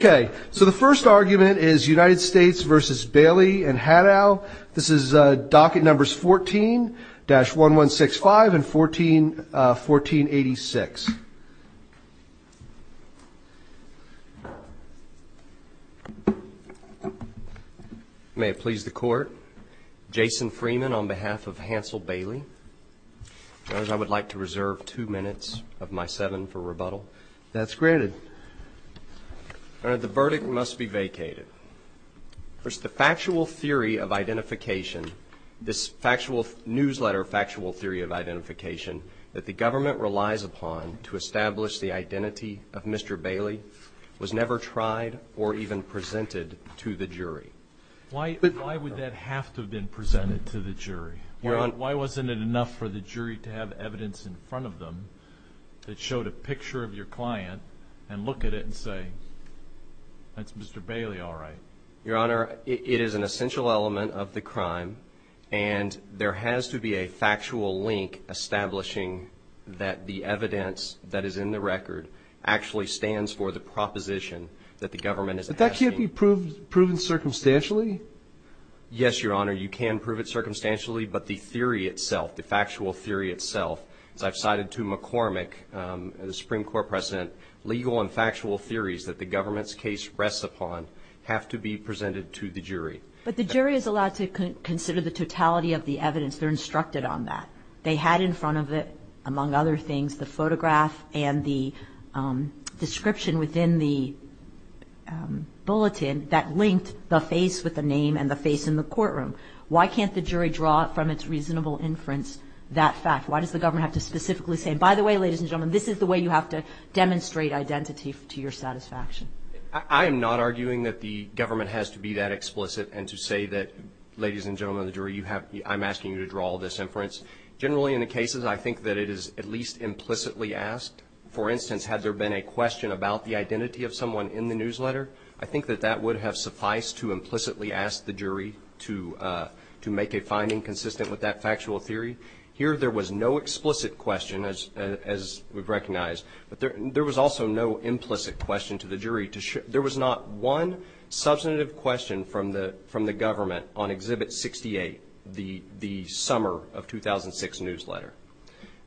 Okay, so the first argument is United States v. Bailey and Haddow. This is docket numbers 14-1165 and 1486. May it please the court, Jason Freeman on behalf of Hansel Bailey. I would like to reserve two minutes of my seven for rebuttal. That's granted. All right, the verdict must be vacated. First, the factual theory of identification, this factual newsletter factual theory of identification that the government relies upon to establish the identity of Mr. Bailey was never tried or even presented to the jury. Why would that have to have been presented to the jury? Why wasn't it enough for the jury to have evidence in front of them that showed a picture of your client and look at it and say, that's Mr. Bailey, all right? Your Honor, it is an essential element of the crime and there has to be a factual link establishing that the evidence that is in the record actually stands for the proposition that the government is asking. But that can't be proven circumstantially? Yes, Your Honor, you can prove it circumstantially, but the theory itself, the factual theory itself, as I've cited to McCormick, the Supreme Court President, legal and factual theories that the government's case rests upon have to be presented to the jury. But the jury is allowed to consider the totality of the evidence. They're instructed on that. They had in front of it, among other things, the photograph and the description within the bulletin that linked the face with the name and the face in the courtroom. Why can't the jury draw from its reasonable inference that fact? Why does the government have to specifically say, by the way, ladies and gentlemen, this is the way you have to demonstrate identity to your satisfaction? I am not arguing that the government has to be that explicit and to say that, ladies and gentlemen of the jury, I'm asking you to draw this inference. Generally, in the cases, I think that it is at least implicitly asked. For instance, had there been a question about the identity of someone in the newsletter, I think that that would have sufficed to implicitly ask the jury to make a finding consistent with that factual theory. Here there was no explicit question, as we've recognized, but there was also no implicit question to the jury. There was not one substantive question from the government on Exhibit 68, the summer of 2006 newsletter.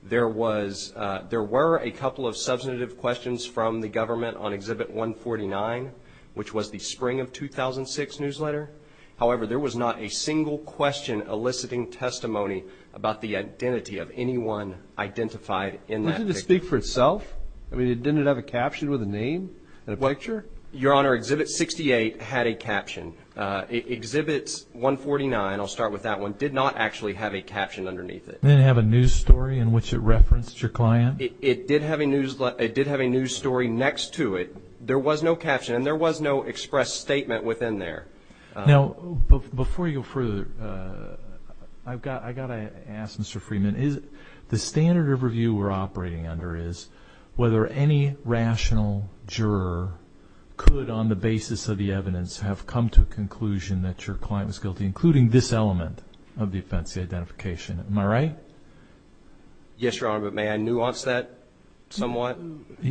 There were a couple of substantive questions from the government on Exhibit 149, which was the spring of 2006 newsletter. However, there was not a single question eliciting testimony about the identity of anyone identified in that picture. Didn't it speak for itself? I mean, didn't it have a caption with a name and a picture? Your Honor, Exhibit 68 had a caption. Exhibit 149, I'll start with that one, did not actually have a caption underneath it. Didn't it have a news story in which it referenced your client? It did have a news story next to it. There was no caption and there was no express statement within there. Now, before you go further, I've got to ask Mr. Freeman, the standard of review we're operating under is whether any rational juror could, on the basis of the evidence, have come to a conclusion that your client was guilty, including this element of the offense of identification. Am I right? Yes, Your Honor, but may I nuance that somewhat?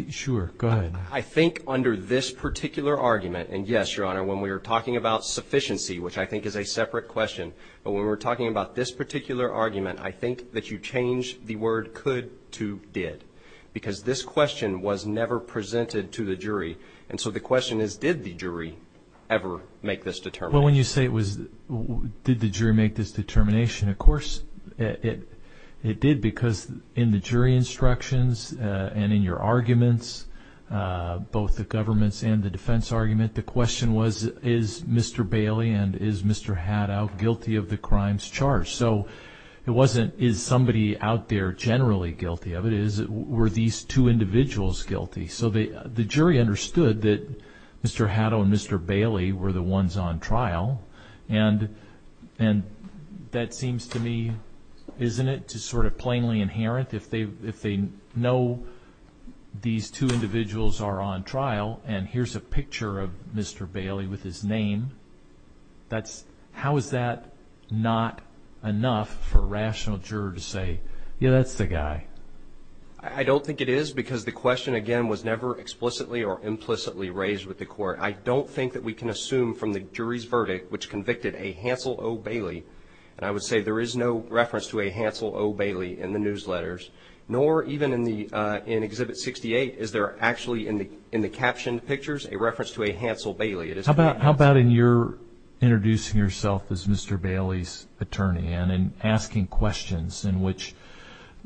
Sure. Go ahead. I think under this particular argument, and yes, Your Honor, when we were talking about sufficiency, which I think is a separate question, but when we were talking about this particular argument, I think that you changed the word could to did, because this question was never presented to the jury, and so the question is, did the jury ever make this determination? Well, when you say, did the jury make this determination, of course it did, because in the jury instructions and in your arguments, both the government's and the defense argument, the question was, is Mr. Bailey and is Mr. Haddow guilty of the crimes charged? So it wasn't, is somebody out there generally guilty of it, it was, were these two individuals guilty? So the jury understood that Mr. Haddow and Mr. Bailey were the ones on trial, and that seems to me, isn't it, to sort of plainly inherent, if they know these two individuals are on trial, and here's a picture of Mr. Bailey with his name, that's, how is that not enough for a rational juror to say, yeah, that's the guy? I don't think it is, because the question, again, was never explicitly or implicitly raised with the court. I don't think that we can assume from the jury's verdict, which convicted a Hansel O. Bailey, and I would say there is no reference to a Hansel O. Bailey in the newsletters, nor even in the, in Exhibit 68, is there actually in the captioned pictures a reference to a Hansel Bailey. How about in your introducing yourself as Mr. Bailey's attorney, and in asking questions in which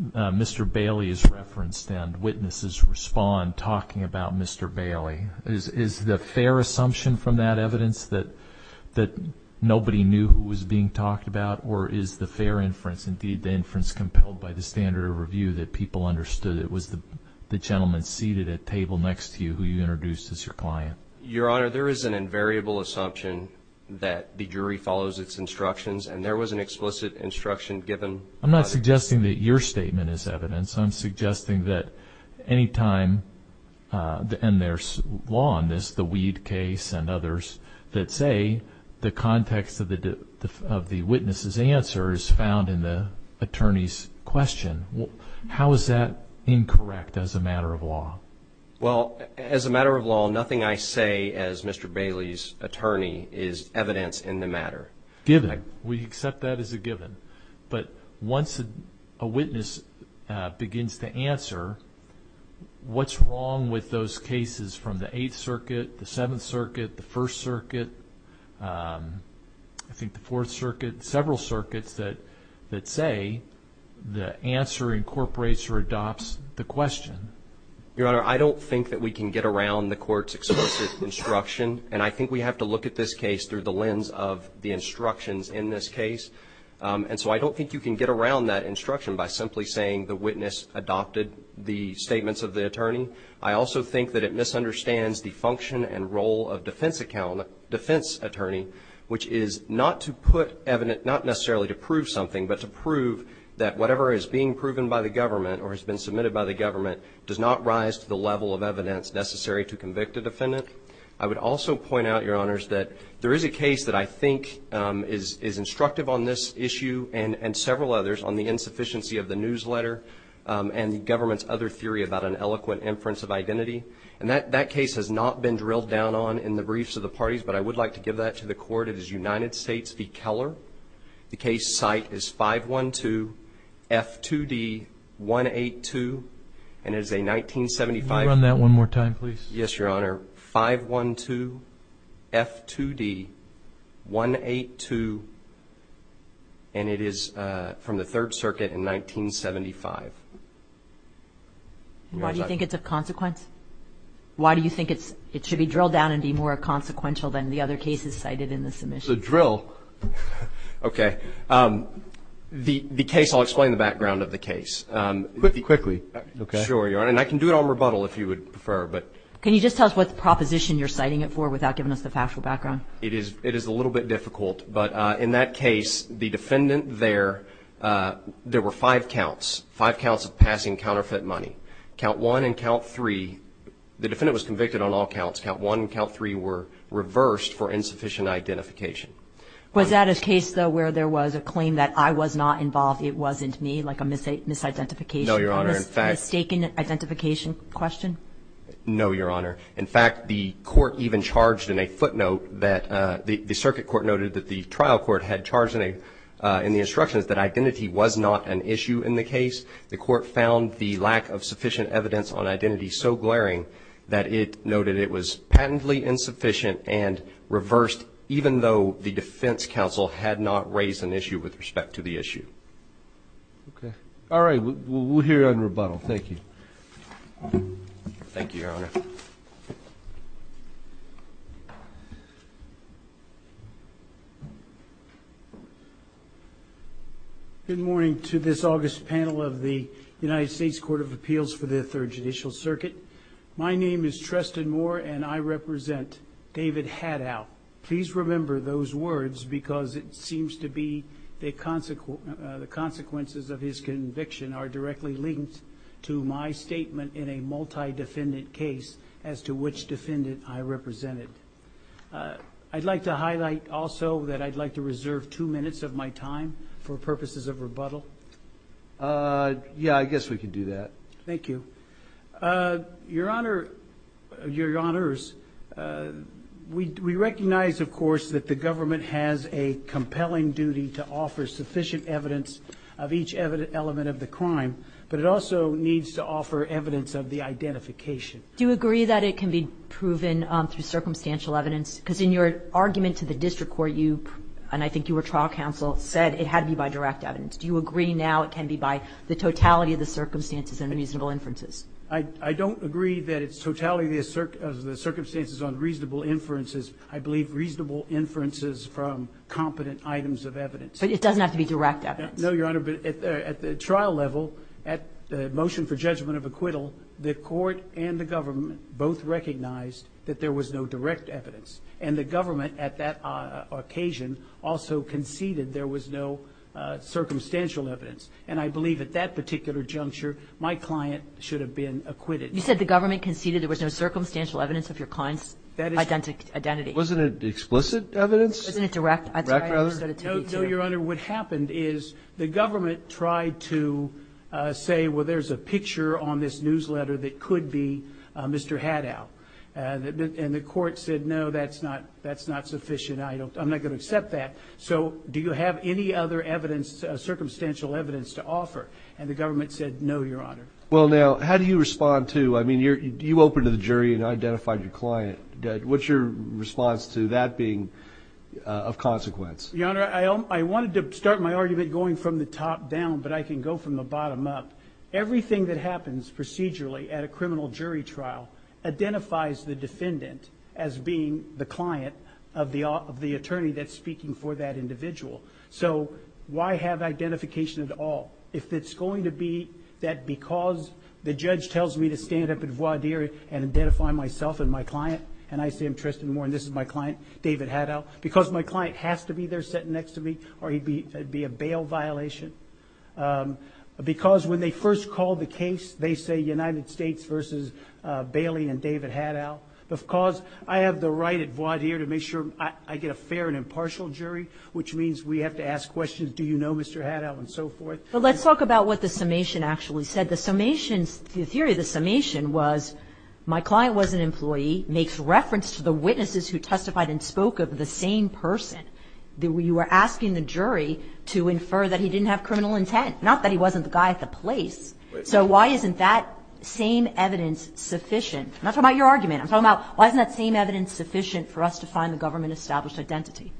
Mr. Bailey is referenced and witnesses respond talking about Mr. Bailey, is the fair assumption from that evidence that nobody knew who was being talked about, or is the fair inference, indeed the inference compelled by the standard of review that people understood it was the gentleman seated at table next to you who you introduced as your client? Your Honor, there is an invariable assumption that the jury follows its instructions, and there was an explicit instruction given. I'm not suggesting that your statement is evidence. I'm suggesting that any time, and there's law on this, the Weed case and others, that say the context of the witness's answer is found in the attorney's question. How is that incorrect as a matter of law? Well, as a matter of law, nothing I say as Mr. Bailey's attorney is evidence in the matter. Given. We accept that as a given. But once a witness begins to answer, what's wrong with those cases from the Eighth Circuit, the Seventh Circuit, the First Circuit, I think the Fourth Circuit, several circuits that say the answer incorporates or adopts the question? Your Honor, I don't think that we can get around the court's explicit instruction, and I think we have to look at this case through the lens of the instructions in this case. And so I don't think you can get around that instruction by simply saying the witness adopted the statements of the attorney. I also think that it misunderstands the function and role of defense attorney, which is not to put evidence, not necessarily to prove something, but to prove that whatever is being proven by the government or has been submitted by the government does not rise to the level of evidence necessary to convict a defendant. I would also point out, Your Honors, that there is a case that I think is instructive on this issue and several others on the insufficiency of the newsletter and the government's other theory about an eloquent inference of identity. And that case has not been drilled down on in the briefs of the parties, but I would like to give that to the court. It is United States v. Keller. The case site is 512F2D182, and it is a 1975. Can you run that one more time, please? Yes, Your Honor. 512F2D182, and it is from the Third Circuit in 1975. Why do you think it's of consequence? Why do you think it should be drilled down and be more consequential than the other cases cited in the submission? The drill? Okay. The case, I'll explain the background of the case. Quickly. Okay. Sure, Your Honor. And I can do it on rebuttal if you would prefer. Can you just tell us what proposition you're citing it for without giving us the factual background? It is a little bit difficult. But in that case, the defendant there, there were five counts, five counts of passing counterfeit money. Count one and count three, the defendant was convicted on all counts. Count one and count three were reversed for insufficient identification. Was that a case, though, where there was a claim that I was not involved, it wasn't me, like a misidentification? No, Your Honor. A mistaken identification question? No, Your Honor. In fact, the court even charged in a footnote that the circuit court noted that the trial court had charged in the instructions that identity was not an issue in the case. The court found the lack of sufficient evidence on identity so glaring that it noted it was patently insufficient and reversed even though the defense counsel had not raised an issue with respect to the issue. Okay. All right. We'll hear you on rebuttal. Thank you. Thank you, Your Honor. Good morning to this August panel of the United States Court of Appeals for the Third Judicial Circuit. My name is Tristan Moore and I represent David Haddow. Please remember those words because it seems to be the consequences of his conviction are directly linked to my statement in a multi-defendant case as to which defendant I represented. I'd like to highlight also that I'd like to reserve two minutes of my time for purposes of rebuttal. Yeah, I guess we can do that. Thank you. Your Honor, Your Honors, we recognize, of course, that the government has a compelling duty to offer sufficient evidence of each element of the crime, but it also needs to offer evidence of the identification. Do you agree that it can be proven through circumstantial evidence? Because in your argument to the district court, you, and I think you were trial counsel, said it had to be by direct evidence. Do you agree now it can be by the totality of the circumstances and reasonable inferences? I don't agree that it's totality of the circumstances on reasonable inferences. I believe reasonable inferences from competent items of evidence. But it doesn't have to be direct evidence. No, Your Honor, but at the trial level, at the motion for judgment of acquittal, the court and the government both recognized that there was no direct evidence, and the government at that occasion also conceded there was no circumstantial evidence. And I believe at that particular juncture, my client should have been acquitted. You said the government conceded there was no circumstantial evidence of your client's identity. Wasn't it explicit evidence? Wasn't it direct? No, Your Honor. What happened is the government tried to say, well, there's a picture on this newsletter that could be Mr. Haddow. And the court said, no, that's not sufficient. I'm not going to accept that. So do you have any other circumstantial evidence to offer? And the government said, no, Your Honor. Well, now, how do you respond to, I mean, you opened to the jury and identified your client. What's your response to that being of consequence? Your Honor, I wanted to start my argument going from the top down, but I can go from the bottom up. Everything that happens procedurally at a criminal jury trial identifies the defendant as being the client of the attorney that's speaking for that individual. So why have identification at all? If it's going to be that because the judge tells me to stand up at voir dire and identify myself and my client, and I say I'm Tristan Moore and this is my client, David Haddow, because my client has to be there sitting next to me or it'd be a bail violation. Because when they first call the case, they say United States versus Bailey and David Haddow. Because I have the right at voir dire to make sure I get a fair and impartial jury, which means we have to ask questions, do you know Mr. Haddow and so forth. But let's talk about what the summation actually said. The summation, the theory of the summation was my client was an employee, makes reference to the witnesses who testified and spoke of the same person. You were asking the jury to infer that he didn't have criminal intent. Not that he wasn't the guy at the place. So why isn't that same evidence sufficient? I'm not talking about your argument. I'm talking about why isn't that same evidence sufficient for us to find the government-established identity?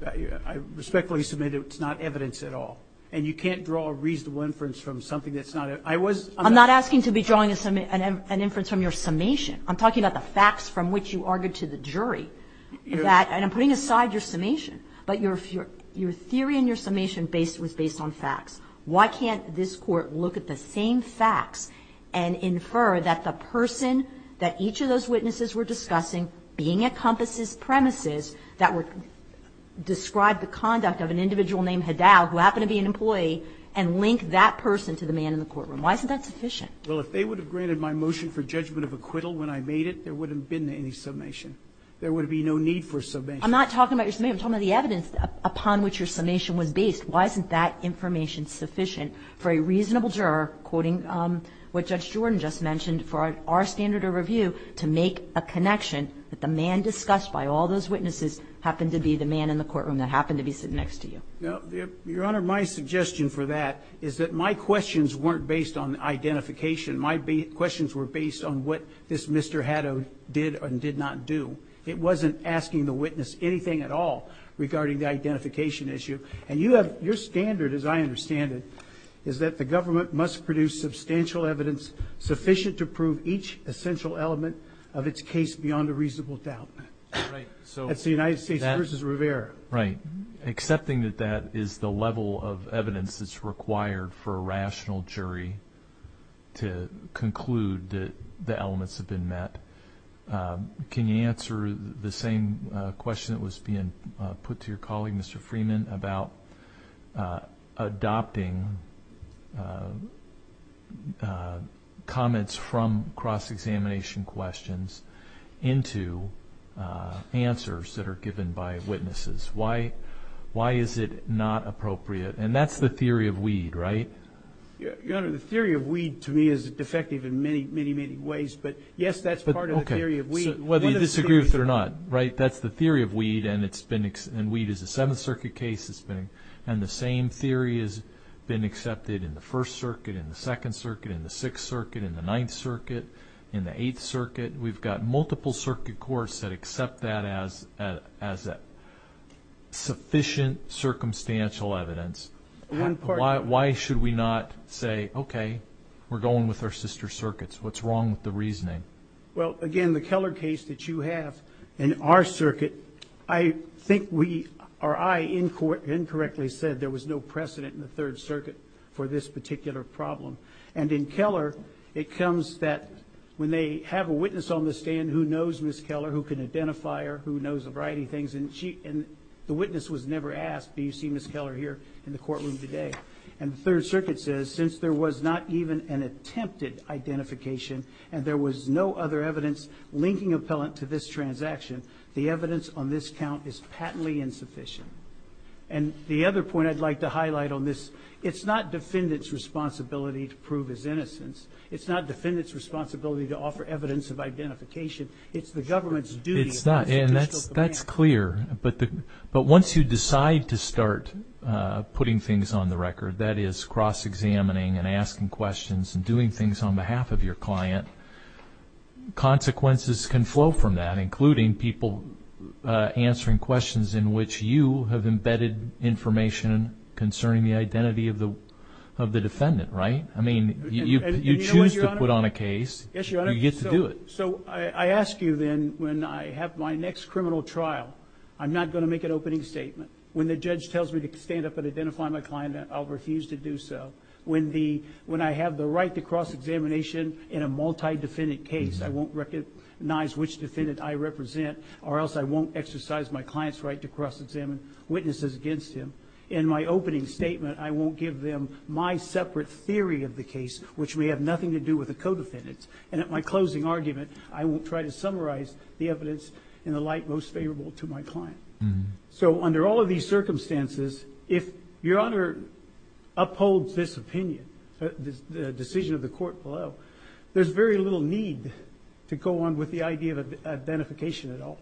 I respectfully submit it's not evidence at all. And you can't draw a reasonable inference from something that's not. I was. I'm not asking to be drawing an inference from your summation. I'm talking about the facts from which you argued to the jury. And I'm putting aside your summation. But your theory and your summation was based on facts. Why can't this Court look at the same facts and infer that the person that each of those witnesses were discussing, being at Compass's premises, that would describe the conduct of an individual named Haddow, who happened to be an employee, and link that person to the man in the courtroom. Why isn't that sufficient? Well, if they would have granted my motion for judgment of acquittal when I made it, there wouldn't have been any summation. There would be no need for summation. I'm not talking about your summation. I'm talking about the evidence upon which your summation was based. Why isn't that information sufficient for a reasonable juror, quoting what Judge Jordan just mentioned, for our standard of review to make a connection that the man discussed by all those witnesses happened to be the man in the courtroom that happened to be sitting next to you. Your Honor, my suggestion for that is that my questions weren't based on identification. My questions were based on what this Mr. Haddow did and did not do. It wasn't asking the witness anything at all regarding the identification issue. And your standard, as I understand it, is that the government must produce substantial evidence sufficient to prove each essential element of its case beyond a reasonable doubt. That's the United States v. Rivera. Right. Accepting that that is the level of evidence that's required for a rational jury to conclude that the elements have been met, can you answer the same question that was being put to your colleague, Mr. Freeman, about adopting comments from cross-examination questions into answers that are given by witnesses? Why is it not appropriate? And that's the theory of weed, right? Your Honor, the theory of weed to me is defective in many, many, many ways. But yes, that's part of the theory of weed. Okay. Whether you disagree with it or not, right, that's the theory of weed, and weed is a Seventh Circuit case. And the same theory has been accepted in the First Circuit, in the Second Circuit, in the Sixth Circuit, in the Ninth Circuit, in the Eighth Circuit. We've got multiple circuit courts that accept that as sufficient circumstantial evidence. Why should we not say, okay, we're going with our sister circuits? What's wrong with the reasoning? Well, again, the Keller case that you have in our circuit, I think we, or I, incorrectly said there was no precedent in the Third Circuit for this particular problem. And in Keller, it comes that when they have a witness on the stand who knows Ms. Keller, who can identify her, who knows a variety of things, and the witness was never asked, do you see Ms. Keller here in the courtroom today? And the Third Circuit says, since there was not even an attempted identification and there was no other evidence linking appellant to this transaction, the evidence on this count is patently insufficient. And the other point I'd like to highlight on this, it's not defendant's responsibility to prove his innocence. It's not defendant's responsibility to offer evidence of identification. It's the government's duty. It's not. And that's clear. But once you decide to start putting things on the record, that is, cross-examining and asking questions and doing things on behalf of your client, consequences can flow from that, including people answering questions in which you have embedded information concerning the identity of the defendant, right? I mean, you choose to put on a case. Yes, Your Honor. You get to do it. So I ask you then when I have my next criminal trial, I'm not going to make an opening statement. When the judge tells me to stand up and identify my client, I'll refuse to do so. When I have the right to cross-examination in a multi-defendant case, I won't recognize which defendant I represent or else I won't exercise my client's right to cross-examine witnesses against him. In my opening statement, I won't give them my separate theory of the case, which may have nothing to do with the co-defendants. And at my closing argument, I won't try to summarize the evidence in the light most favorable to my client. So under all of these circumstances, if Your Honor upholds this opinion, the decision of the court below, there's very little need to go on with the idea of identification at all.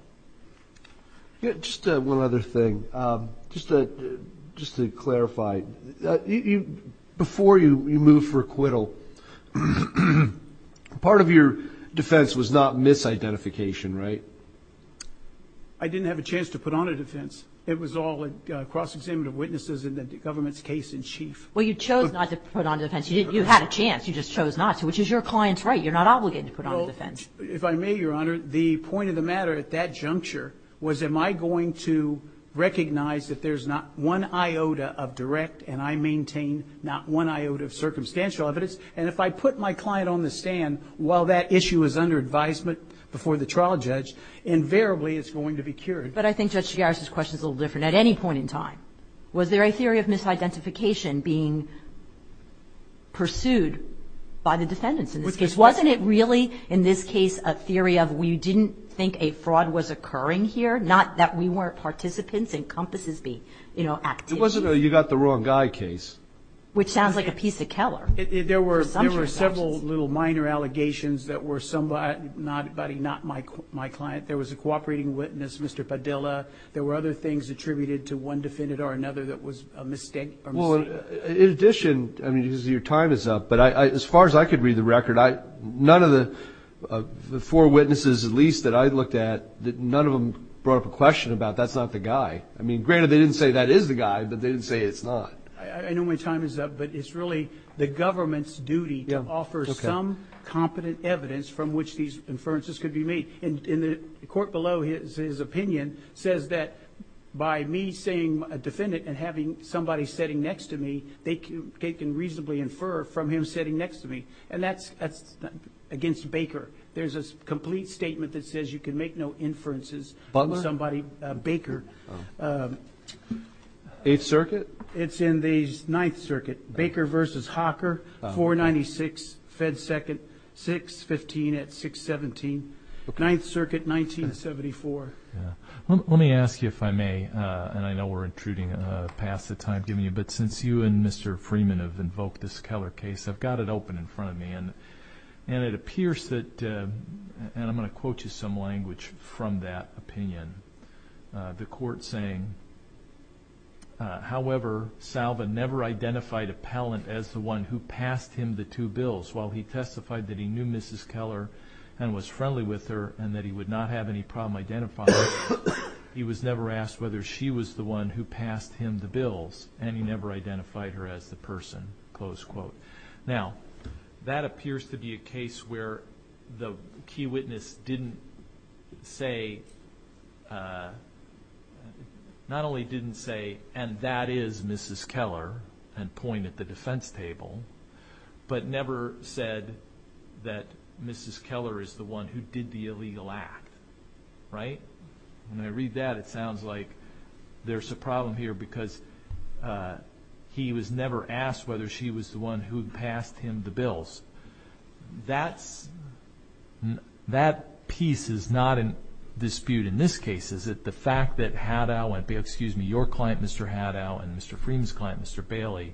Just one other thing. Just to clarify, before you move for acquittal, part of your defense was not misidentification, right? I didn't have a chance to put on a defense. It was all cross-examination of witnesses and the government's case in chief. Well, you chose not to put on a defense. You had a chance. You just chose not to, which is your client's right. You're not obligated to put on a defense. If I may, Your Honor, the point of the matter at that juncture was, am I going to recognize that there's not one iota of direct and I maintain not one iota of circumstantial evidence? And if I put my client on the stand while that issue is under advisement before the trial judge, invariably it's going to be cured. But I think Judge Giorgis' question is a little different. At any point in time, was there a theory of misidentification being pursued by the defendants in this case? Wasn't it really, in this case, a theory of we didn't think a fraud was occurring here, not that we weren't participants in Compass's activity? It wasn't a you got the wrong guy case. Which sounds like a piece of Keller. There were several little minor allegations that were somebody, not my client. There was a cooperating witness, Mr. Padilla. There were other things attributed to one defendant or another that was a mistake. In addition, your time is up, but as far as I could read the record, none of the four witnesses at least that I looked at, none of them brought up a question about that's not the guy. Granted, they didn't say that is the guy, but they didn't say it's not. I know my time is up, but it's really the government's duty to offer some competent evidence from which these inferences could be made. The court below his opinion says that by me saying a defendant and having somebody sitting next to me, they can reasonably infer from him sitting next to me, and that's against Baker. There's a complete statement that says you can make no inferences on somebody Baker. Eighth Circuit? It's in the Ninth Circuit, Baker v. Hocker, 496 Fed 2nd, 615 at 617, Ninth Circuit, 1974. Let me ask you if I may, and I know we're intruding past the time given you, but since you and Mr. Freeman have invoked this Keller case, I've got it open in front of me, and it appears that, and I'm going to quote you some language from that opinion, the court saying, however, Salvin never identified a pallant as the one who passed him the two bills. While he testified that he knew Mrs. Keller and was friendly with her and that he would not have any problem identifying her, he was never asked whether she was the one who passed him the bills, and he never identified her as the person, close quote. Now, that appears to be a case where the key witness didn't say, not only didn't say, and that is Mrs. Keller and point at the defense table, but never said that Mrs. Keller is the one who did the illegal act, right? When I read that, it sounds like there's a problem here because he was never asked whether she was the one who passed him the bills. That piece is not in dispute in this case. Is it the fact that Haddow and, excuse me, your client, Mr. Haddow, and Mr. Freeman's client, Mr. Bailey,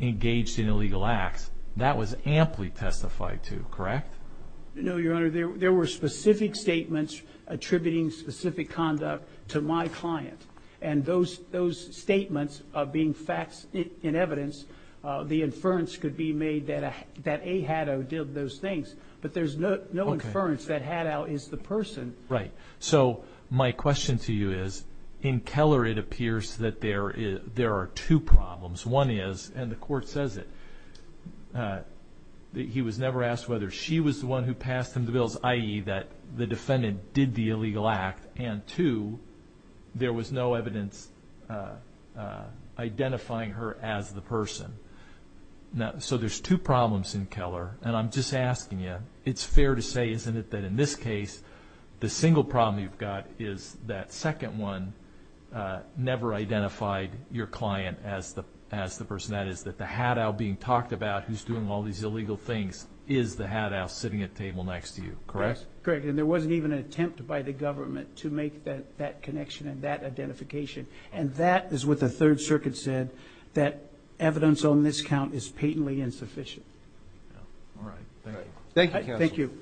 engaged in illegal acts? That was amply testified to, correct? No, Your Honor. There were specific statements attributing specific conduct to my client, and those statements being facts in evidence, the inference could be made that A. Haddow did those things, but there's no inference that Haddow is the person. Right. So my question to you is, in Keller it appears that there are two problems. One is, and the Court says it, that he was never asked whether she was the one who passed him the bills, i.e., that the defendant did the illegal act, and two, there was no evidence identifying her as the person. So there's two problems in Keller, and I'm just asking you, it's fair to say, isn't it, that in this case the single problem you've got is that second one never identified your client as the person. That is that the Haddow being talked about who's doing all these illegal things is the Haddow sitting at the table next to you, correct? Correct. And there wasn't even an attempt by the government to make that connection and that identification, and that is what the Third Circuit said, that evidence on this count is patently insufficient. All right. Thank you, counsel. Thank you.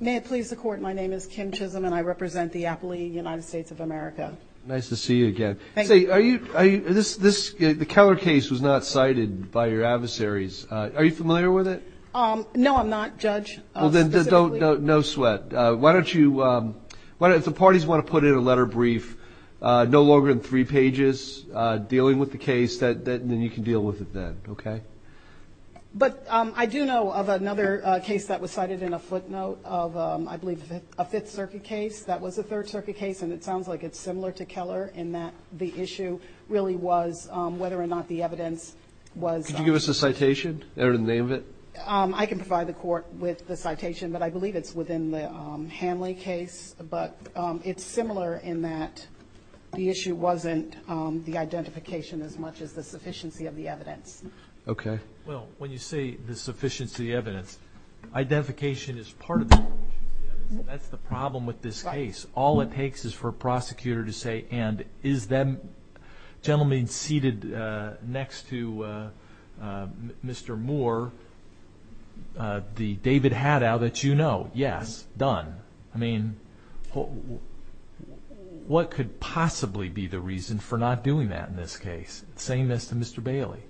May it please the Court, my name is Kim Chisholm, and I represent the Appalachian United States of America. Nice to see you again. Thank you. The Keller case was not cited by your adversaries. Are you familiar with it? No, I'm not, Judge. Well, then, no sweat. Why don't you, if the parties want to put in a letter brief, no longer than three pages dealing with the case, then you can deal with it then, okay? But I do know of another case that was cited in a footnote of, I believe, a Fifth Circuit case that was a Third Circuit case, and it sounds like it's similar to Keller in that the issue really was whether or not the evidence was on the case. Could you give us the citation or the name of it? I can provide the Court with the citation, but I believe it's within the Hanley case. But it's similar in that the issue wasn't the identification as much as the sufficiency of the evidence. Okay. Well, when you say the sufficiency of the evidence, identification is part of the sufficiency of the evidence, and that's the problem with this case. All it takes is for a prosecutor to say, and is that gentleman seated next to Mr. Moore the David Haddow that you know? Yes. Done. I mean, what could possibly be the reason for not doing that in this case, saying this to Mr. Bailey?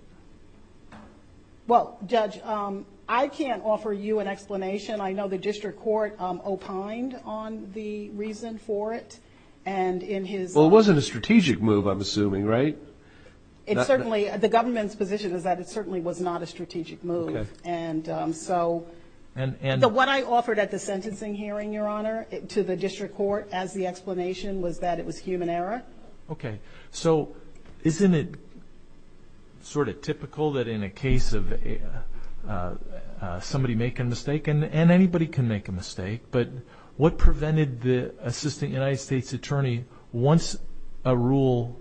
Well, Judge, I can't offer you an explanation. I know the district court opined on the reason for it. Well, it wasn't a strategic move, I'm assuming, right? The government's position is that it certainly was not a strategic move. What I offered at the sentencing hearing, Your Honor, to the district court as the explanation was that it was human error. Okay. So isn't it sort of typical that in a case of somebody making a mistake, and anybody can make a mistake, but what prevented the assistant United States attorney, once a Rule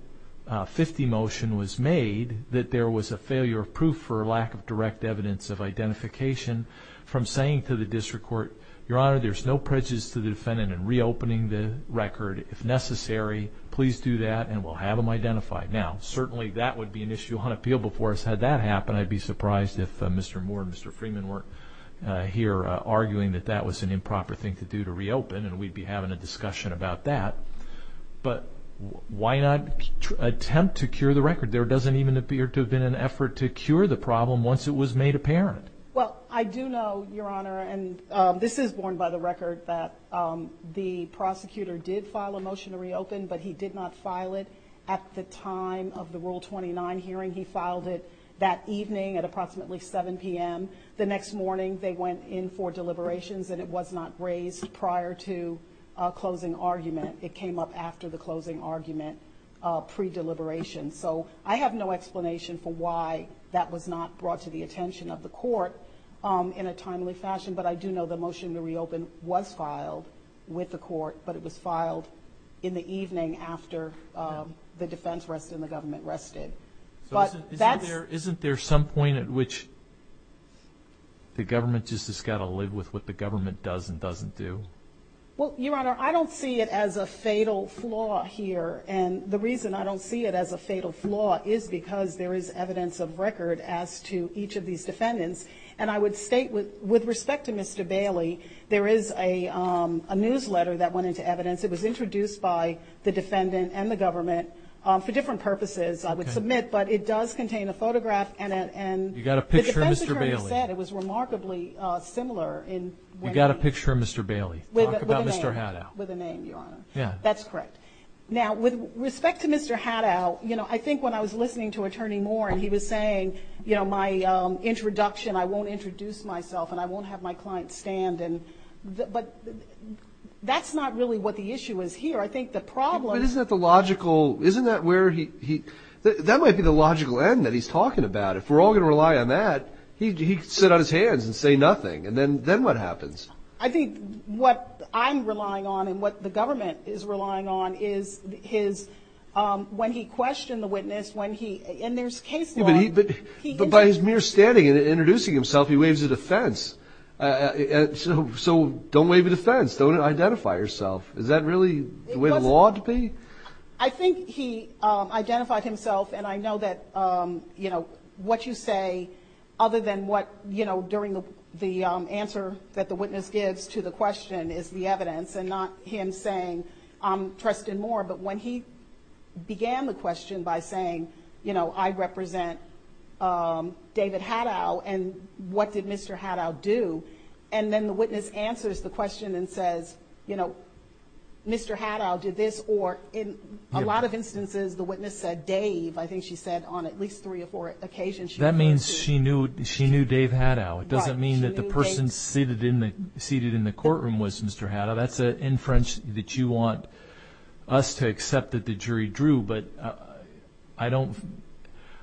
50 motion was made, that there was a failure of proof for lack of direct evidence of identification from saying to the district court, Your Honor, there's no prejudice to the defendant in reopening the record. If necessary, please do that, and we'll have them identified. Now, certainly that would be an issue on appeal before it's had that happen. I'd be surprised if Mr. Moore and Mr. Freeman weren't here, arguing that that was an improper thing to do to reopen, and we'd be having a discussion about that. But why not attempt to cure the record? There doesn't even appear to have been an effort to cure the problem once it was made apparent. Well, I do know, Your Honor, and this is borne by the record that the prosecutor did file a motion to reopen, but he did not file it at the time of the Rule 29 hearing. He filed it that evening at approximately 7 p.m. The next morning they went in for deliberations, and it was not raised prior to a closing argument. It came up after the closing argument, pre-deliberation. So I have no explanation for why that was not brought to the attention of the court in a timely fashion, but I do know the motion to reopen was filed with the court, but it was filed in the evening after the defense rested and the government rested. Isn't there some point at which the government just has got to live with what the government does and doesn't do? Well, Your Honor, I don't see it as a fatal flaw here, and the reason I don't see it as a fatal flaw is because there is evidence of record as to each of these defendants, and I would state with respect to Mr. Bailey, there is a newsletter that went into evidence. It was introduced by the defendant and the government. For different purposes, I would submit, but it does contain a photograph, and the defense attorney said it was remarkably similar. You've got a picture of Mr. Bailey. Talk about Mr. Haddow. With a name, Your Honor. Yeah. That's correct. Now, with respect to Mr. Haddow, you know, I think when I was listening to Attorney Moore and he was saying, you know, my introduction, I won't introduce myself, and I won't have my clients stand, but that's not really what the issue is here. I think the problem is that the logical isn't that where he he that might be the logical end that he's talking about. If we're all going to rely on that, he could sit on his hands and say nothing, and then what happens? I think what I'm relying on and what the government is relying on is his when he questioned the witness, when he, and there's case law. But by his mere standing and introducing himself, he waves a defense. So don't wave a defense. Don't identify yourself. Is that really the way the law ought to be? I think he identified himself, and I know that, you know, what you say other than what, you know, during the answer that the witness gives to the question is the evidence and not him saying, I'm trusting more, but when he began the question by saying, you know, I represent David Haddow, and what did Mr. Haddow do? And then the witness answers the question and says, you know, Mr. Haddow did this, or in a lot of instances, the witness said Dave. I think she said on at least three or four occasions. That means she knew Dave Haddow. It doesn't mean that the person seated in the courtroom was Mr. Haddow. That's an inference that you want us to accept that the jury drew, but I don't,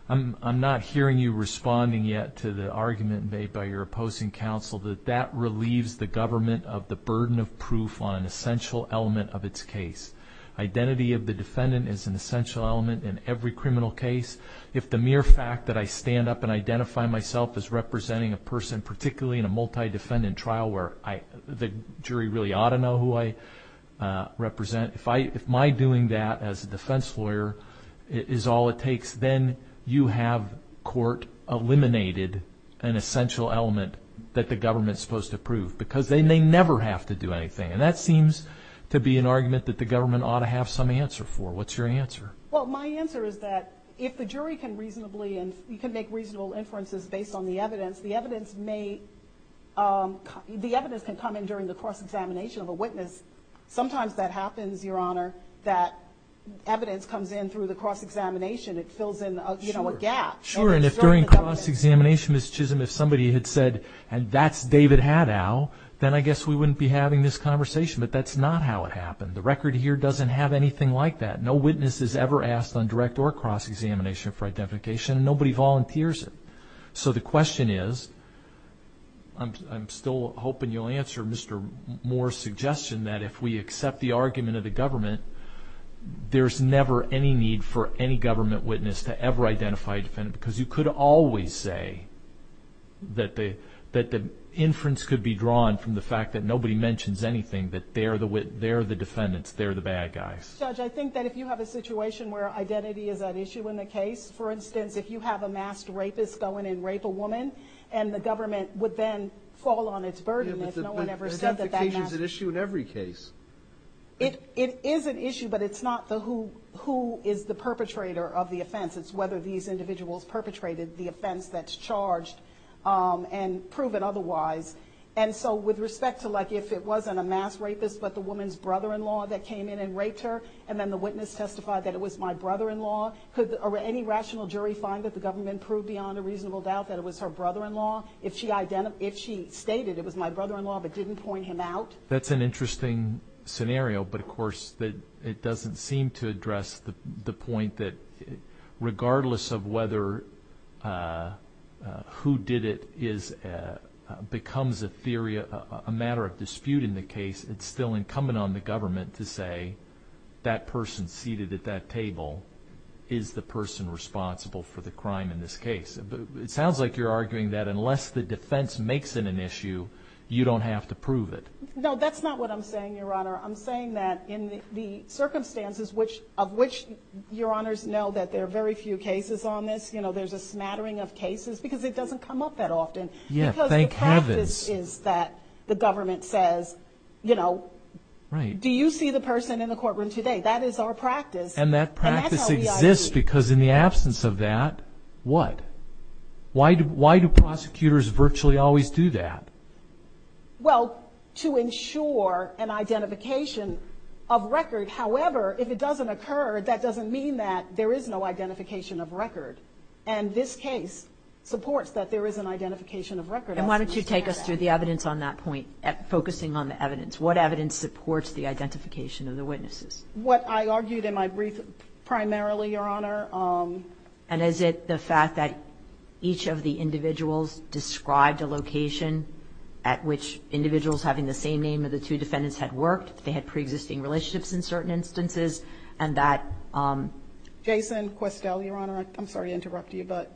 I'm not hearing you responding yet to the argument made by your opposing counsel that that relieves the government of the burden of proof on an essential element of its case. Identity of the defendant is an essential element in every criminal case. If the mere fact that I stand up and identify myself as representing a person, particularly in a multi-defendant trial where the jury really ought to know who I represent, if my doing that as a defense lawyer is all it takes, then you have court eliminated an essential element that the government is supposed to prove because then they never have to do anything, and that seems to be an argument that the government ought to have some answer for. What's your answer? Well, my answer is that if the jury can reasonably, and you can make reasonable inferences based on the evidence, the evidence can come in during the cross-examination of a witness. Sometimes that happens, Your Honor, that evidence comes in through the cross-examination. It fills in a gap. Sure, and if during cross-examination, Ms. Chisholm, if somebody had said, and that's David Haddow, then I guess we wouldn't be having this conversation, but that's not how it happened. The record here doesn't have anything like that. No witness is ever asked on direct or cross-examination for identification, and nobody volunteers it. So the question is, I'm still hoping you'll answer Mr. Moore's suggestion, that if we accept the argument of the government, there's never any need for any government witness to ever identify a defendant because you could always say that the inference could be drawn from the fact that nobody mentions anything, that they're the defendants, they're the bad guys. Judge, I think that if you have a situation where identity is at issue in the case, for instance, if you have a masked rapist go in and rape a woman, and the government would then fall on its burden if no one ever said that that masked... Identification is an issue in every case. It is an issue, but it's not who is the perpetrator of the offense. It's whether these individuals perpetrated the offense that's charged and proven otherwise. And so with respect to, like, if it wasn't a masked rapist, but the woman's brother-in-law that came in and raped her, and then the witness testified that it was my brother-in-law, could any rational jury find that the government proved beyond a reasonable doubt that it was her brother-in-law if she stated it was my brother-in-law but didn't point him out? That's an interesting scenario, but, of course, it doesn't seem to address the point that, regardless of whether who did it becomes a matter of dispute in the case, it's still incumbent on the government to say that person seated at that table is the person responsible for the crime in this case. It sounds like you're arguing that unless the defense makes it an issue, you don't have to prove it. No, that's not what I'm saying, Your Honor. I'm saying that in the circumstances of which, Your Honors, know that there are very few cases on this, you know, there's a smattering of cases because it doesn't come up that often. Yeah, thank heavens. Because the practice is that the government says, you know, do you see the person in the courtroom today? That is our practice. And that practice exists because in the absence of that, what? Why do prosecutors virtually always do that? Well, to ensure an identification of record. However, if it doesn't occur, that doesn't mean that there is no identification of record. And this case supports that there is an identification of record. And why don't you take us through the evidence on that point, focusing on the evidence. What evidence supports the identification of the witnesses? What I argued in my brief primarily, Your Honor. And is it the fact that each of the individuals described a location at which individuals having the same name of the two defendants had worked, they had pre-existing relationships in certain instances, and that? Jason Questel, Your Honor. I'm sorry to interrupt you, but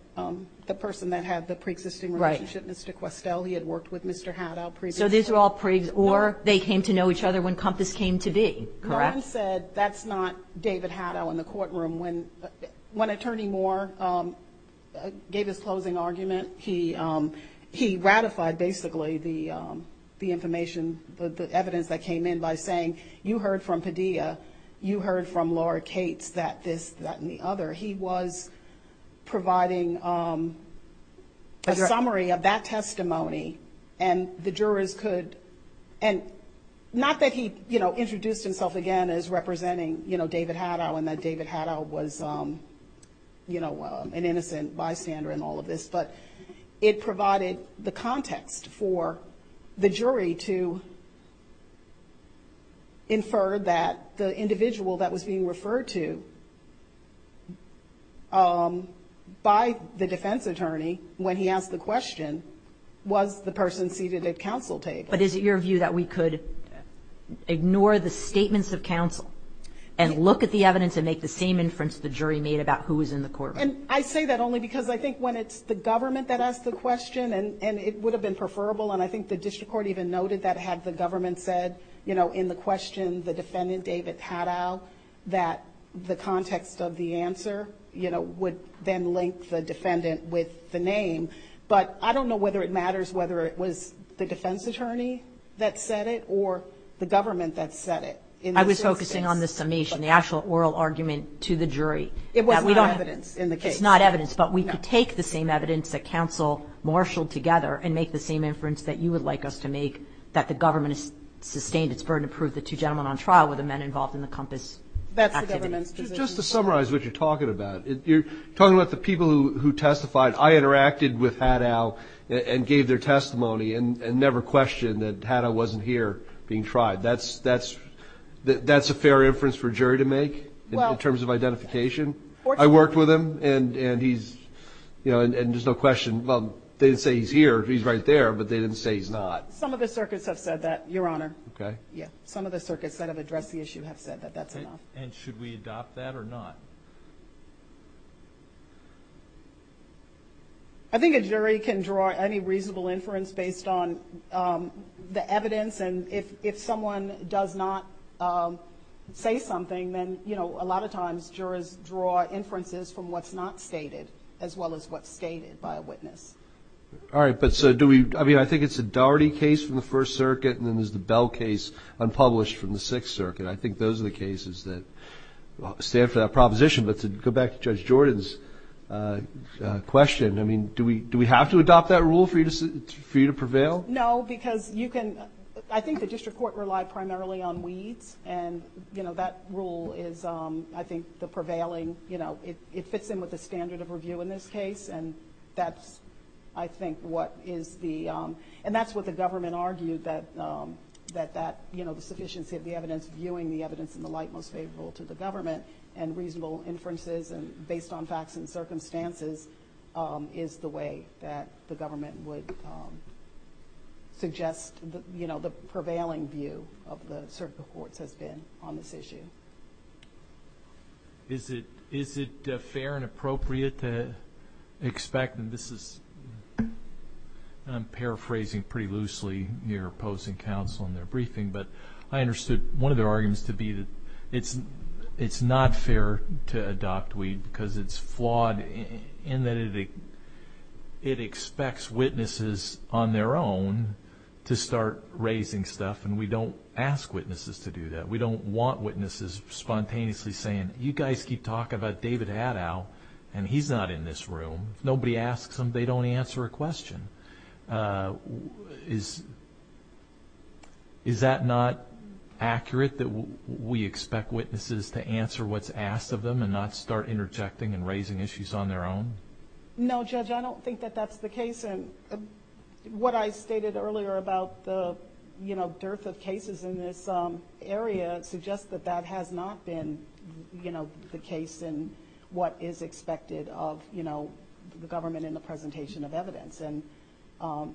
the person that had the pre-existing relationship, Mr. Questel, he had worked with Mr. Haddow. So these are all prigs, or they came to know each other when Compass came to be, correct? Ron said that's not David Haddow in the courtroom. When Attorney Moore gave his closing argument, he ratified basically the information, the evidence that came in by saying, you heard from Padilla, you heard from Lord Cates, that this, that, and the other. He was providing a summary of that testimony, and the jurors could, and not that he, you know, introduced himself again as representing, you know, David Haddow, and that David Haddow was, you know, an innocent bystander and all of this. But it provided the context for the jury to infer that the individual that was being referred to by the defense attorney when he asked the question, was the person seated at counsel table? But is it your view that we could ignore the statements of counsel and look at the evidence and make the same inference the jury made about who was in the courtroom? And I say that only because I think when it's the government that asked the question, and it would have been preferable, and I think the district court even noted that had the government said, you know, in the question the defendant, David Haddow, that the context of the answer, you know, would then link the defendant with the name. But I don't know whether it matters whether it was the defense attorney that said it or the government that said it. I was focusing on the summation, the actual oral argument to the jury. It wasn't evidence in the case. It's not evidence, but we could take the same evidence that counsel marshaled together and make the same inference that you would like us to make, that the government has sustained its burden to prove the two gentlemen on trial were the men involved in the COMPAS activity. That's the government's position. Just to summarize what you're talking about, you're talking about the people who testified. I interacted with Haddow and gave their testimony and never questioned that Haddow wasn't here being tried. That's a fair inference for a jury to make in terms of identification? I worked with him, and he's, you know, and there's no question. Well, they didn't say he's here, he's right there, but they didn't say he's not. Some of the circuits have said that, Your Honor. Okay. Yeah, some of the circuits that have addressed the issue have said that that's enough. And should we adopt that or not? I think a jury can draw any reasonable inference based on the evidence, and if someone does not say something, then, you know, a lot of times, jurors draw inferences from what's not stated as well as what's stated by a witness. All right. But so do we, I mean, I think it's a Dougherty case from the First Circuit, and then there's the Bell case unpublished from the Sixth Circuit. I think those are the cases that stand for that proposition. But to go back to Judge Jordan's question, I mean, do we have to adopt that rule for you to prevail? No, because you can – I think the district court relied primarily on weeds, and, you know, that rule is, I think, the prevailing – you know, it fits in with the standard of review in this case, and that's, I think, what is the – and that's what the government argued, that, you know, the sufficiency of the evidence, viewing the evidence in the light most favorable to the government, and reasonable inferences based on facts and circumstances is the way that the government would suggest, you know, the prevailing view of the circuit courts has been on this issue. Is it fair and appropriate to expect that this is – and I'm paraphrasing pretty loosely near opposing counsel in their briefing, but I understood one of their arguments to be that it's not fair to adopt weed because it's flawed in that it expects witnesses on their own to start raising stuff, and we don't ask witnesses to do that. We don't want witnesses spontaneously saying, you guys keep talking about David Haddow, and he's not in this room. Nobody asks him, they don't answer a question. Is that not accurate, that we expect witnesses to answer what's asked of them and not start interjecting and raising issues on their own? No, Judge, I don't think that that's the case. What I stated earlier about the, you know, dearth of cases in this area suggests that that has not been, you know, the case in what is expected of, you know, the government in the presentation of evidence and,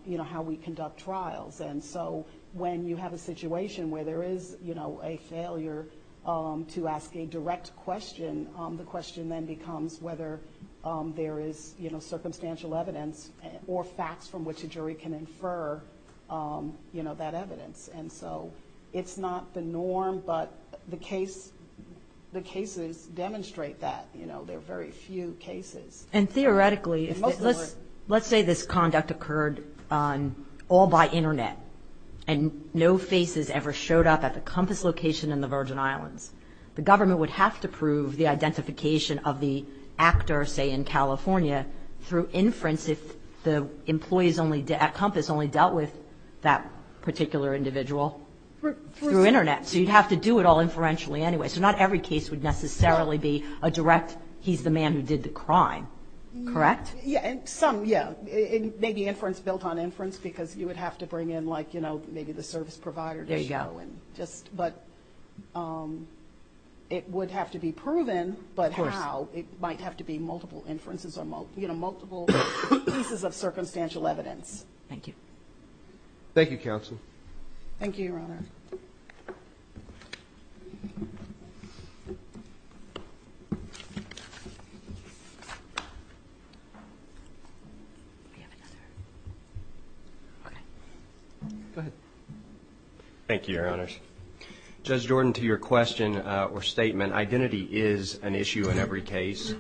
you know, how we conduct trials. And so when you have a situation where there is, you know, a failure to ask a direct question, the question then becomes whether there is, you know, circumstantial evidence or facts from which a jury can infer, you know, that evidence. And so it's not the norm, but the cases demonstrate that, you know, there are very few cases. And theoretically, let's say this conduct occurred all by Internet and no faces ever showed up at the Compass location in the Virgin Islands. The government would have to prove the identification of the actor, say, in California, through inference if the employees at Compass only dealt with that particular individual through Internet. So you'd have to do it all inferentially anyway. So not every case would necessarily be a direct, he's the man who did the crime. Correct? Yeah. Some, yeah. Maybe inference built on inference because you would have to bring in, like, you know, maybe the service provider to show. There you go. But it would have to be proven, but how? Of course. It might have to be multiple inferences or, you know, multiple pieces of circumstantial evidence. Thank you. Thank you, counsel. Thank you, Your Honor. We have another. Okay. Go ahead. Thank you, Your Honors. Judge Jordan, to your question or statement, identity is an issue in every case.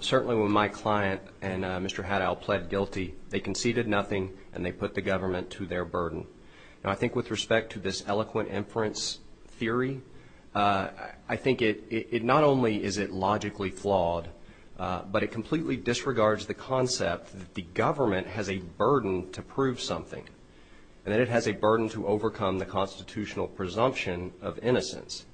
Certainly when my client and Mr. Haddow pled guilty, they conceded nothing and they put the government to their burden. Now, I think with respect to this eloquent inference theory, I think it not only is it logically flawed, but it completely disregards the concept that the government has a burden to prove something and that it has a burden to overcome the constitutional presumption of innocence.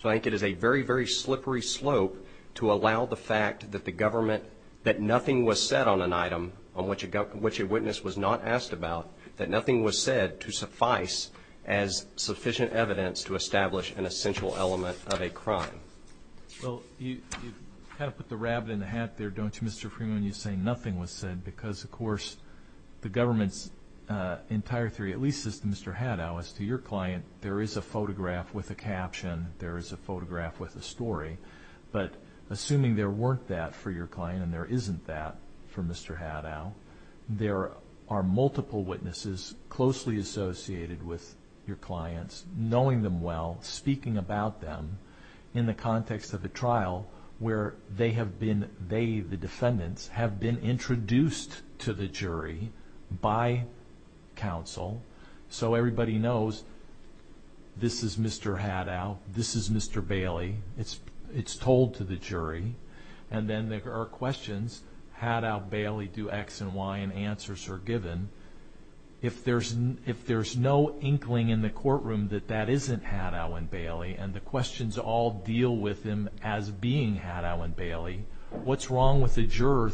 So I think it is a very, very slippery slope to allow the fact that the government, that nothing was said on an item on which a witness was not asked about, that nothing was said to suffice as sufficient evidence to establish an essential element of a crime. Well, you kind of put the rabbit in the hat there, don't you, Mr. Freeman, when you say nothing was said because, of course, the government's entire theory, at least as to Mr. Haddow, as to your client, there is a photograph with a caption. There is a photograph with a story. But assuming there weren't that for your client and there isn't that for Mr. Haddow, there are multiple witnesses closely associated with your clients, knowing them well, speaking about them in the context of a trial where they have been, they, the defendants, have been introduced to the jury by counsel so everybody knows this is Mr. Haddow, this is Mr. Bailey. It's told to the jury. And then there are questions, Haddow, Bailey, do X and Y, and answers are given. If there's no inkling in the courtroom that that isn't Haddow and Bailey and the questions all deal with him as being Haddow and Bailey, what's wrong with the juror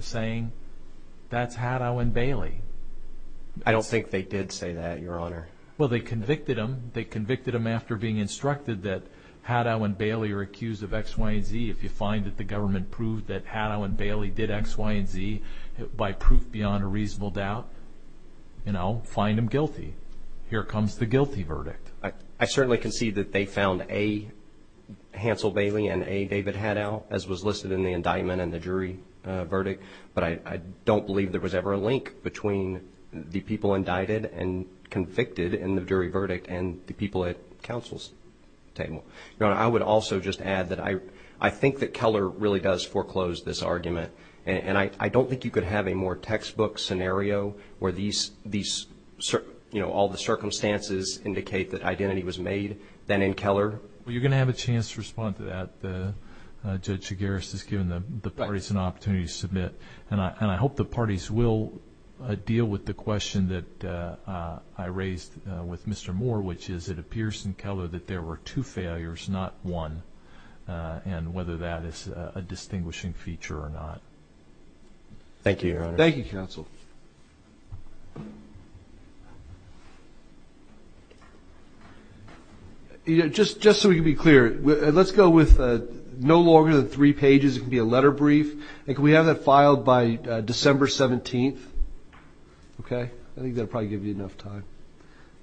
saying that's Haddow and Bailey? I don't think they did say that, Your Honor. Well, they convicted him. They convicted him after being instructed that Haddow and Bailey are accused of X, Y, and Z. If you find that the government proved that Haddow and Bailey did X, Y, and Z, by proof beyond a reasonable doubt, you know, find him guilty. Here comes the guilty verdict. I certainly can see that they found A, Hansel Bailey, and A, David Haddow, as was listed in the indictment and the jury verdict, but I don't believe there was ever a link between the people indicted and convicted in the jury verdict and the people at counsel's table. Your Honor, I would also just add that I think that Keller really does foreclose this argument, and I don't think you could have a more textbook scenario where these, you know, all the circumstances indicate that identity was made than in Keller. Well, you're going to have a chance to respond to that. Judge Chigueras has given the parties an opportunity to submit, and I hope the parties will deal with the question that I raised with Mr. Moore, which is it appears in Keller that there were two failures, not one, and whether that is a distinguishing feature or not. Thank you, Your Honor. Thank you, counsel. Just so we can be clear, let's go with no longer than three pages. It can be a letter brief, and can we have that filed by December 17th? Okay. I think that will probably give you enough time.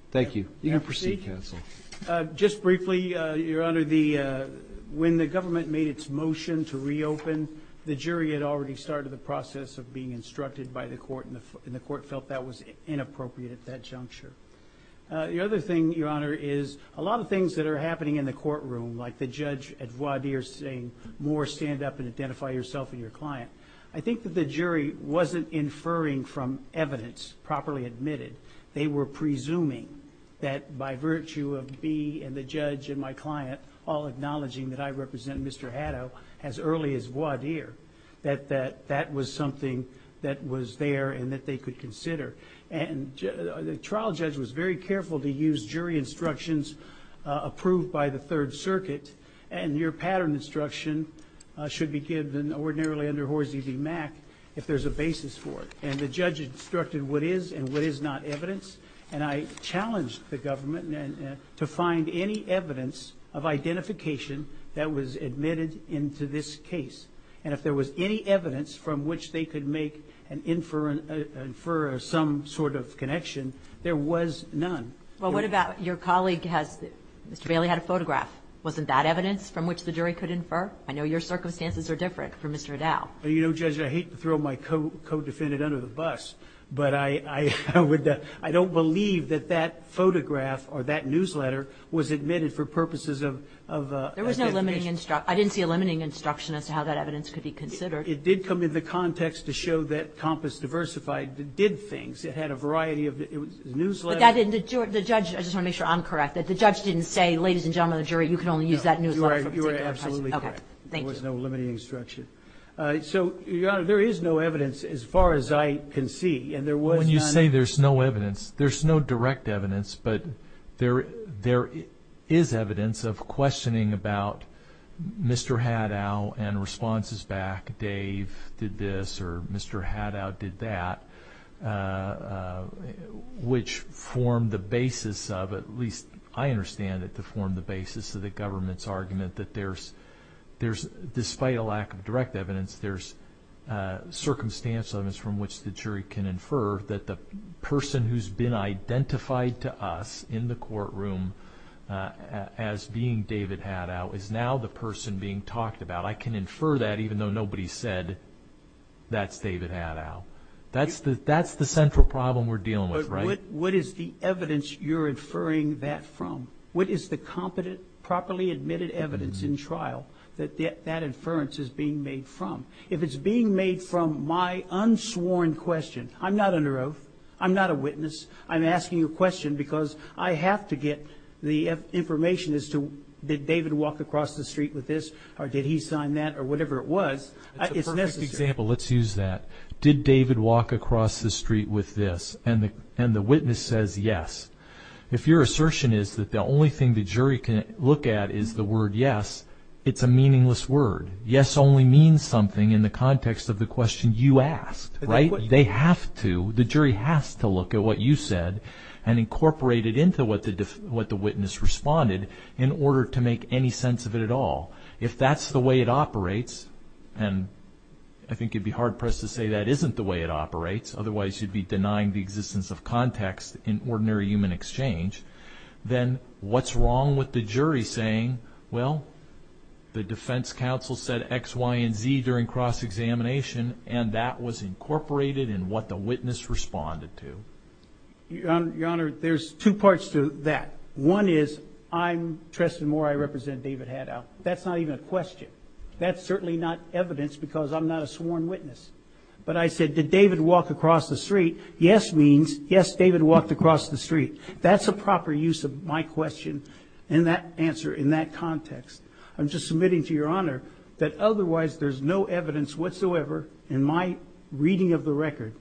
Thank you. You can proceed, counsel. Just briefly, Your Honor, when the government made its motion to reopen, the jury had already started the process of being instructed by the court, and the court felt that was inappropriate at that juncture. The other thing, Your Honor, is a lot of things that are happening in the courtroom, like the judge at voir dire saying, Moore, stand up and identify yourself and your client, I think that the jury wasn't inferring from evidence properly admitted. They were presuming that by virtue of me and the judge and my client all acknowledging that I represent Mr. Haddo as early as voir dire, that that was something that was there and that they could consider. And the trial judge was very careful to use jury instructions approved by the Third Circuit, and your pattern instruction should be given ordinarily under Horsey v. Mack if there's a basis for it. And the judge instructed what is and what is not evidence, and I challenged the government to find any evidence of identification that was admitted into this case. And if there was any evidence from which they could make and infer some sort of connection, there was none. Well, what about your colleague? Mr. Bailey had a photograph. Wasn't that evidence from which the jury could infer? I know your circumstances are different from Mr. Haddo. Well, you know, Judge, I hate to throw my co-defendant under the bus, but I don't believe that that photograph or that newsletter was admitted for purposes of identification. There was no limiting instruction. I didn't see a limiting instruction as to how that evidence could be considered. It did come into context to show that Compass Diversified did things. It had a variety of newsletters. But the judge, I just want to make sure I'm correct, that the judge didn't say, ladies and gentlemen of the jury, you can only use that newsletter. You are absolutely correct. There was no limiting instruction. So, Your Honor, there is no evidence as far as I can see, and there was none. When you say there's no evidence, there's no direct evidence, but there is evidence of questioning about Mr. Haddo and responses back, Dave did this or Mr. Haddo did that, which formed the basis of, at least I understand it to form the basis of the government's argument that there's, despite a lack of direct evidence, there's circumstantial evidence from which the jury can infer that the person who's been identified to us in the courtroom as being David Haddo is now the person being talked about. I can infer that even though nobody said that's David Haddo. That's the central problem we're dealing with, right? But what is the evidence you're inferring that from? What is the competent, properly admitted evidence in trial that that inference is being made from? If it's being made from my unsworn question, I'm not under oath. I'm not a witness. I'm asking a question because I have to get the information as to did David walk across the street with this or did he sign that or whatever it was. It's necessary. That's a perfect example. Let's use that. Did David walk across the street with this? And the witness says yes. If your assertion is that the only thing the jury can look at is the word yes, it's a meaningless word. Yes only means something in the context of the question you asked, right? They have to, the jury has to look at what you said and incorporate it into what the witness responded in order to make any sense of it at all. If that's the way it operates, and I think you'd be hard pressed to say that isn't the way it operates, otherwise you'd be denying the existence of context in ordinary human exchange, then what's wrong with the jury saying, well the defense counsel said X, Y, and Z during cross-examination and that was incorporated in what the witness responded to? Your Honor, there's two parts to that. One is I'm trusting more I represent David Haddow. That's not even a question. That's certainly not evidence because I'm not a sworn witness. But I said did David walk across the street? Yes means yes, David walked across the street. That's a proper use of my question and that answer in that context. I'm just submitting to Your Honor that otherwise there's no evidence whatsoever in my reading of the record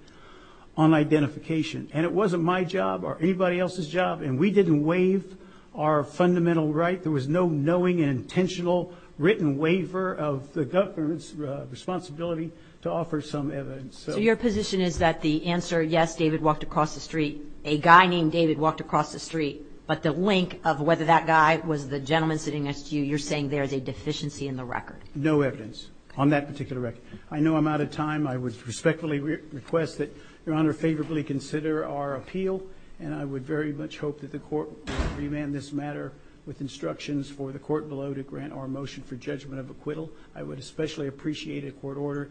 on identification, and it wasn't my job or anybody else's job, and we didn't waive our fundamental right. There was no knowing and intentional written waiver of the government's responsibility to offer some evidence. So your position is that the answer, yes, David walked across the street, a guy named David walked across the street, but the link of whether that guy was the gentleman sitting next to you, you're saying there is a deficiency in the record? No evidence on that particular record. I know I'm out of time. I would respectfully request that Your Honor favorably consider our appeal, and I would very much hope that the court would remand this matter with instructions for the court below to grant our motion for judgment of acquittal. I would especially appreciate a court order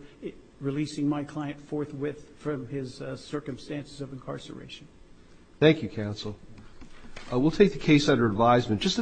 releasing my client forthwith from his circumstances of incarceration. Thank you, counsel. We'll take the case under advisement.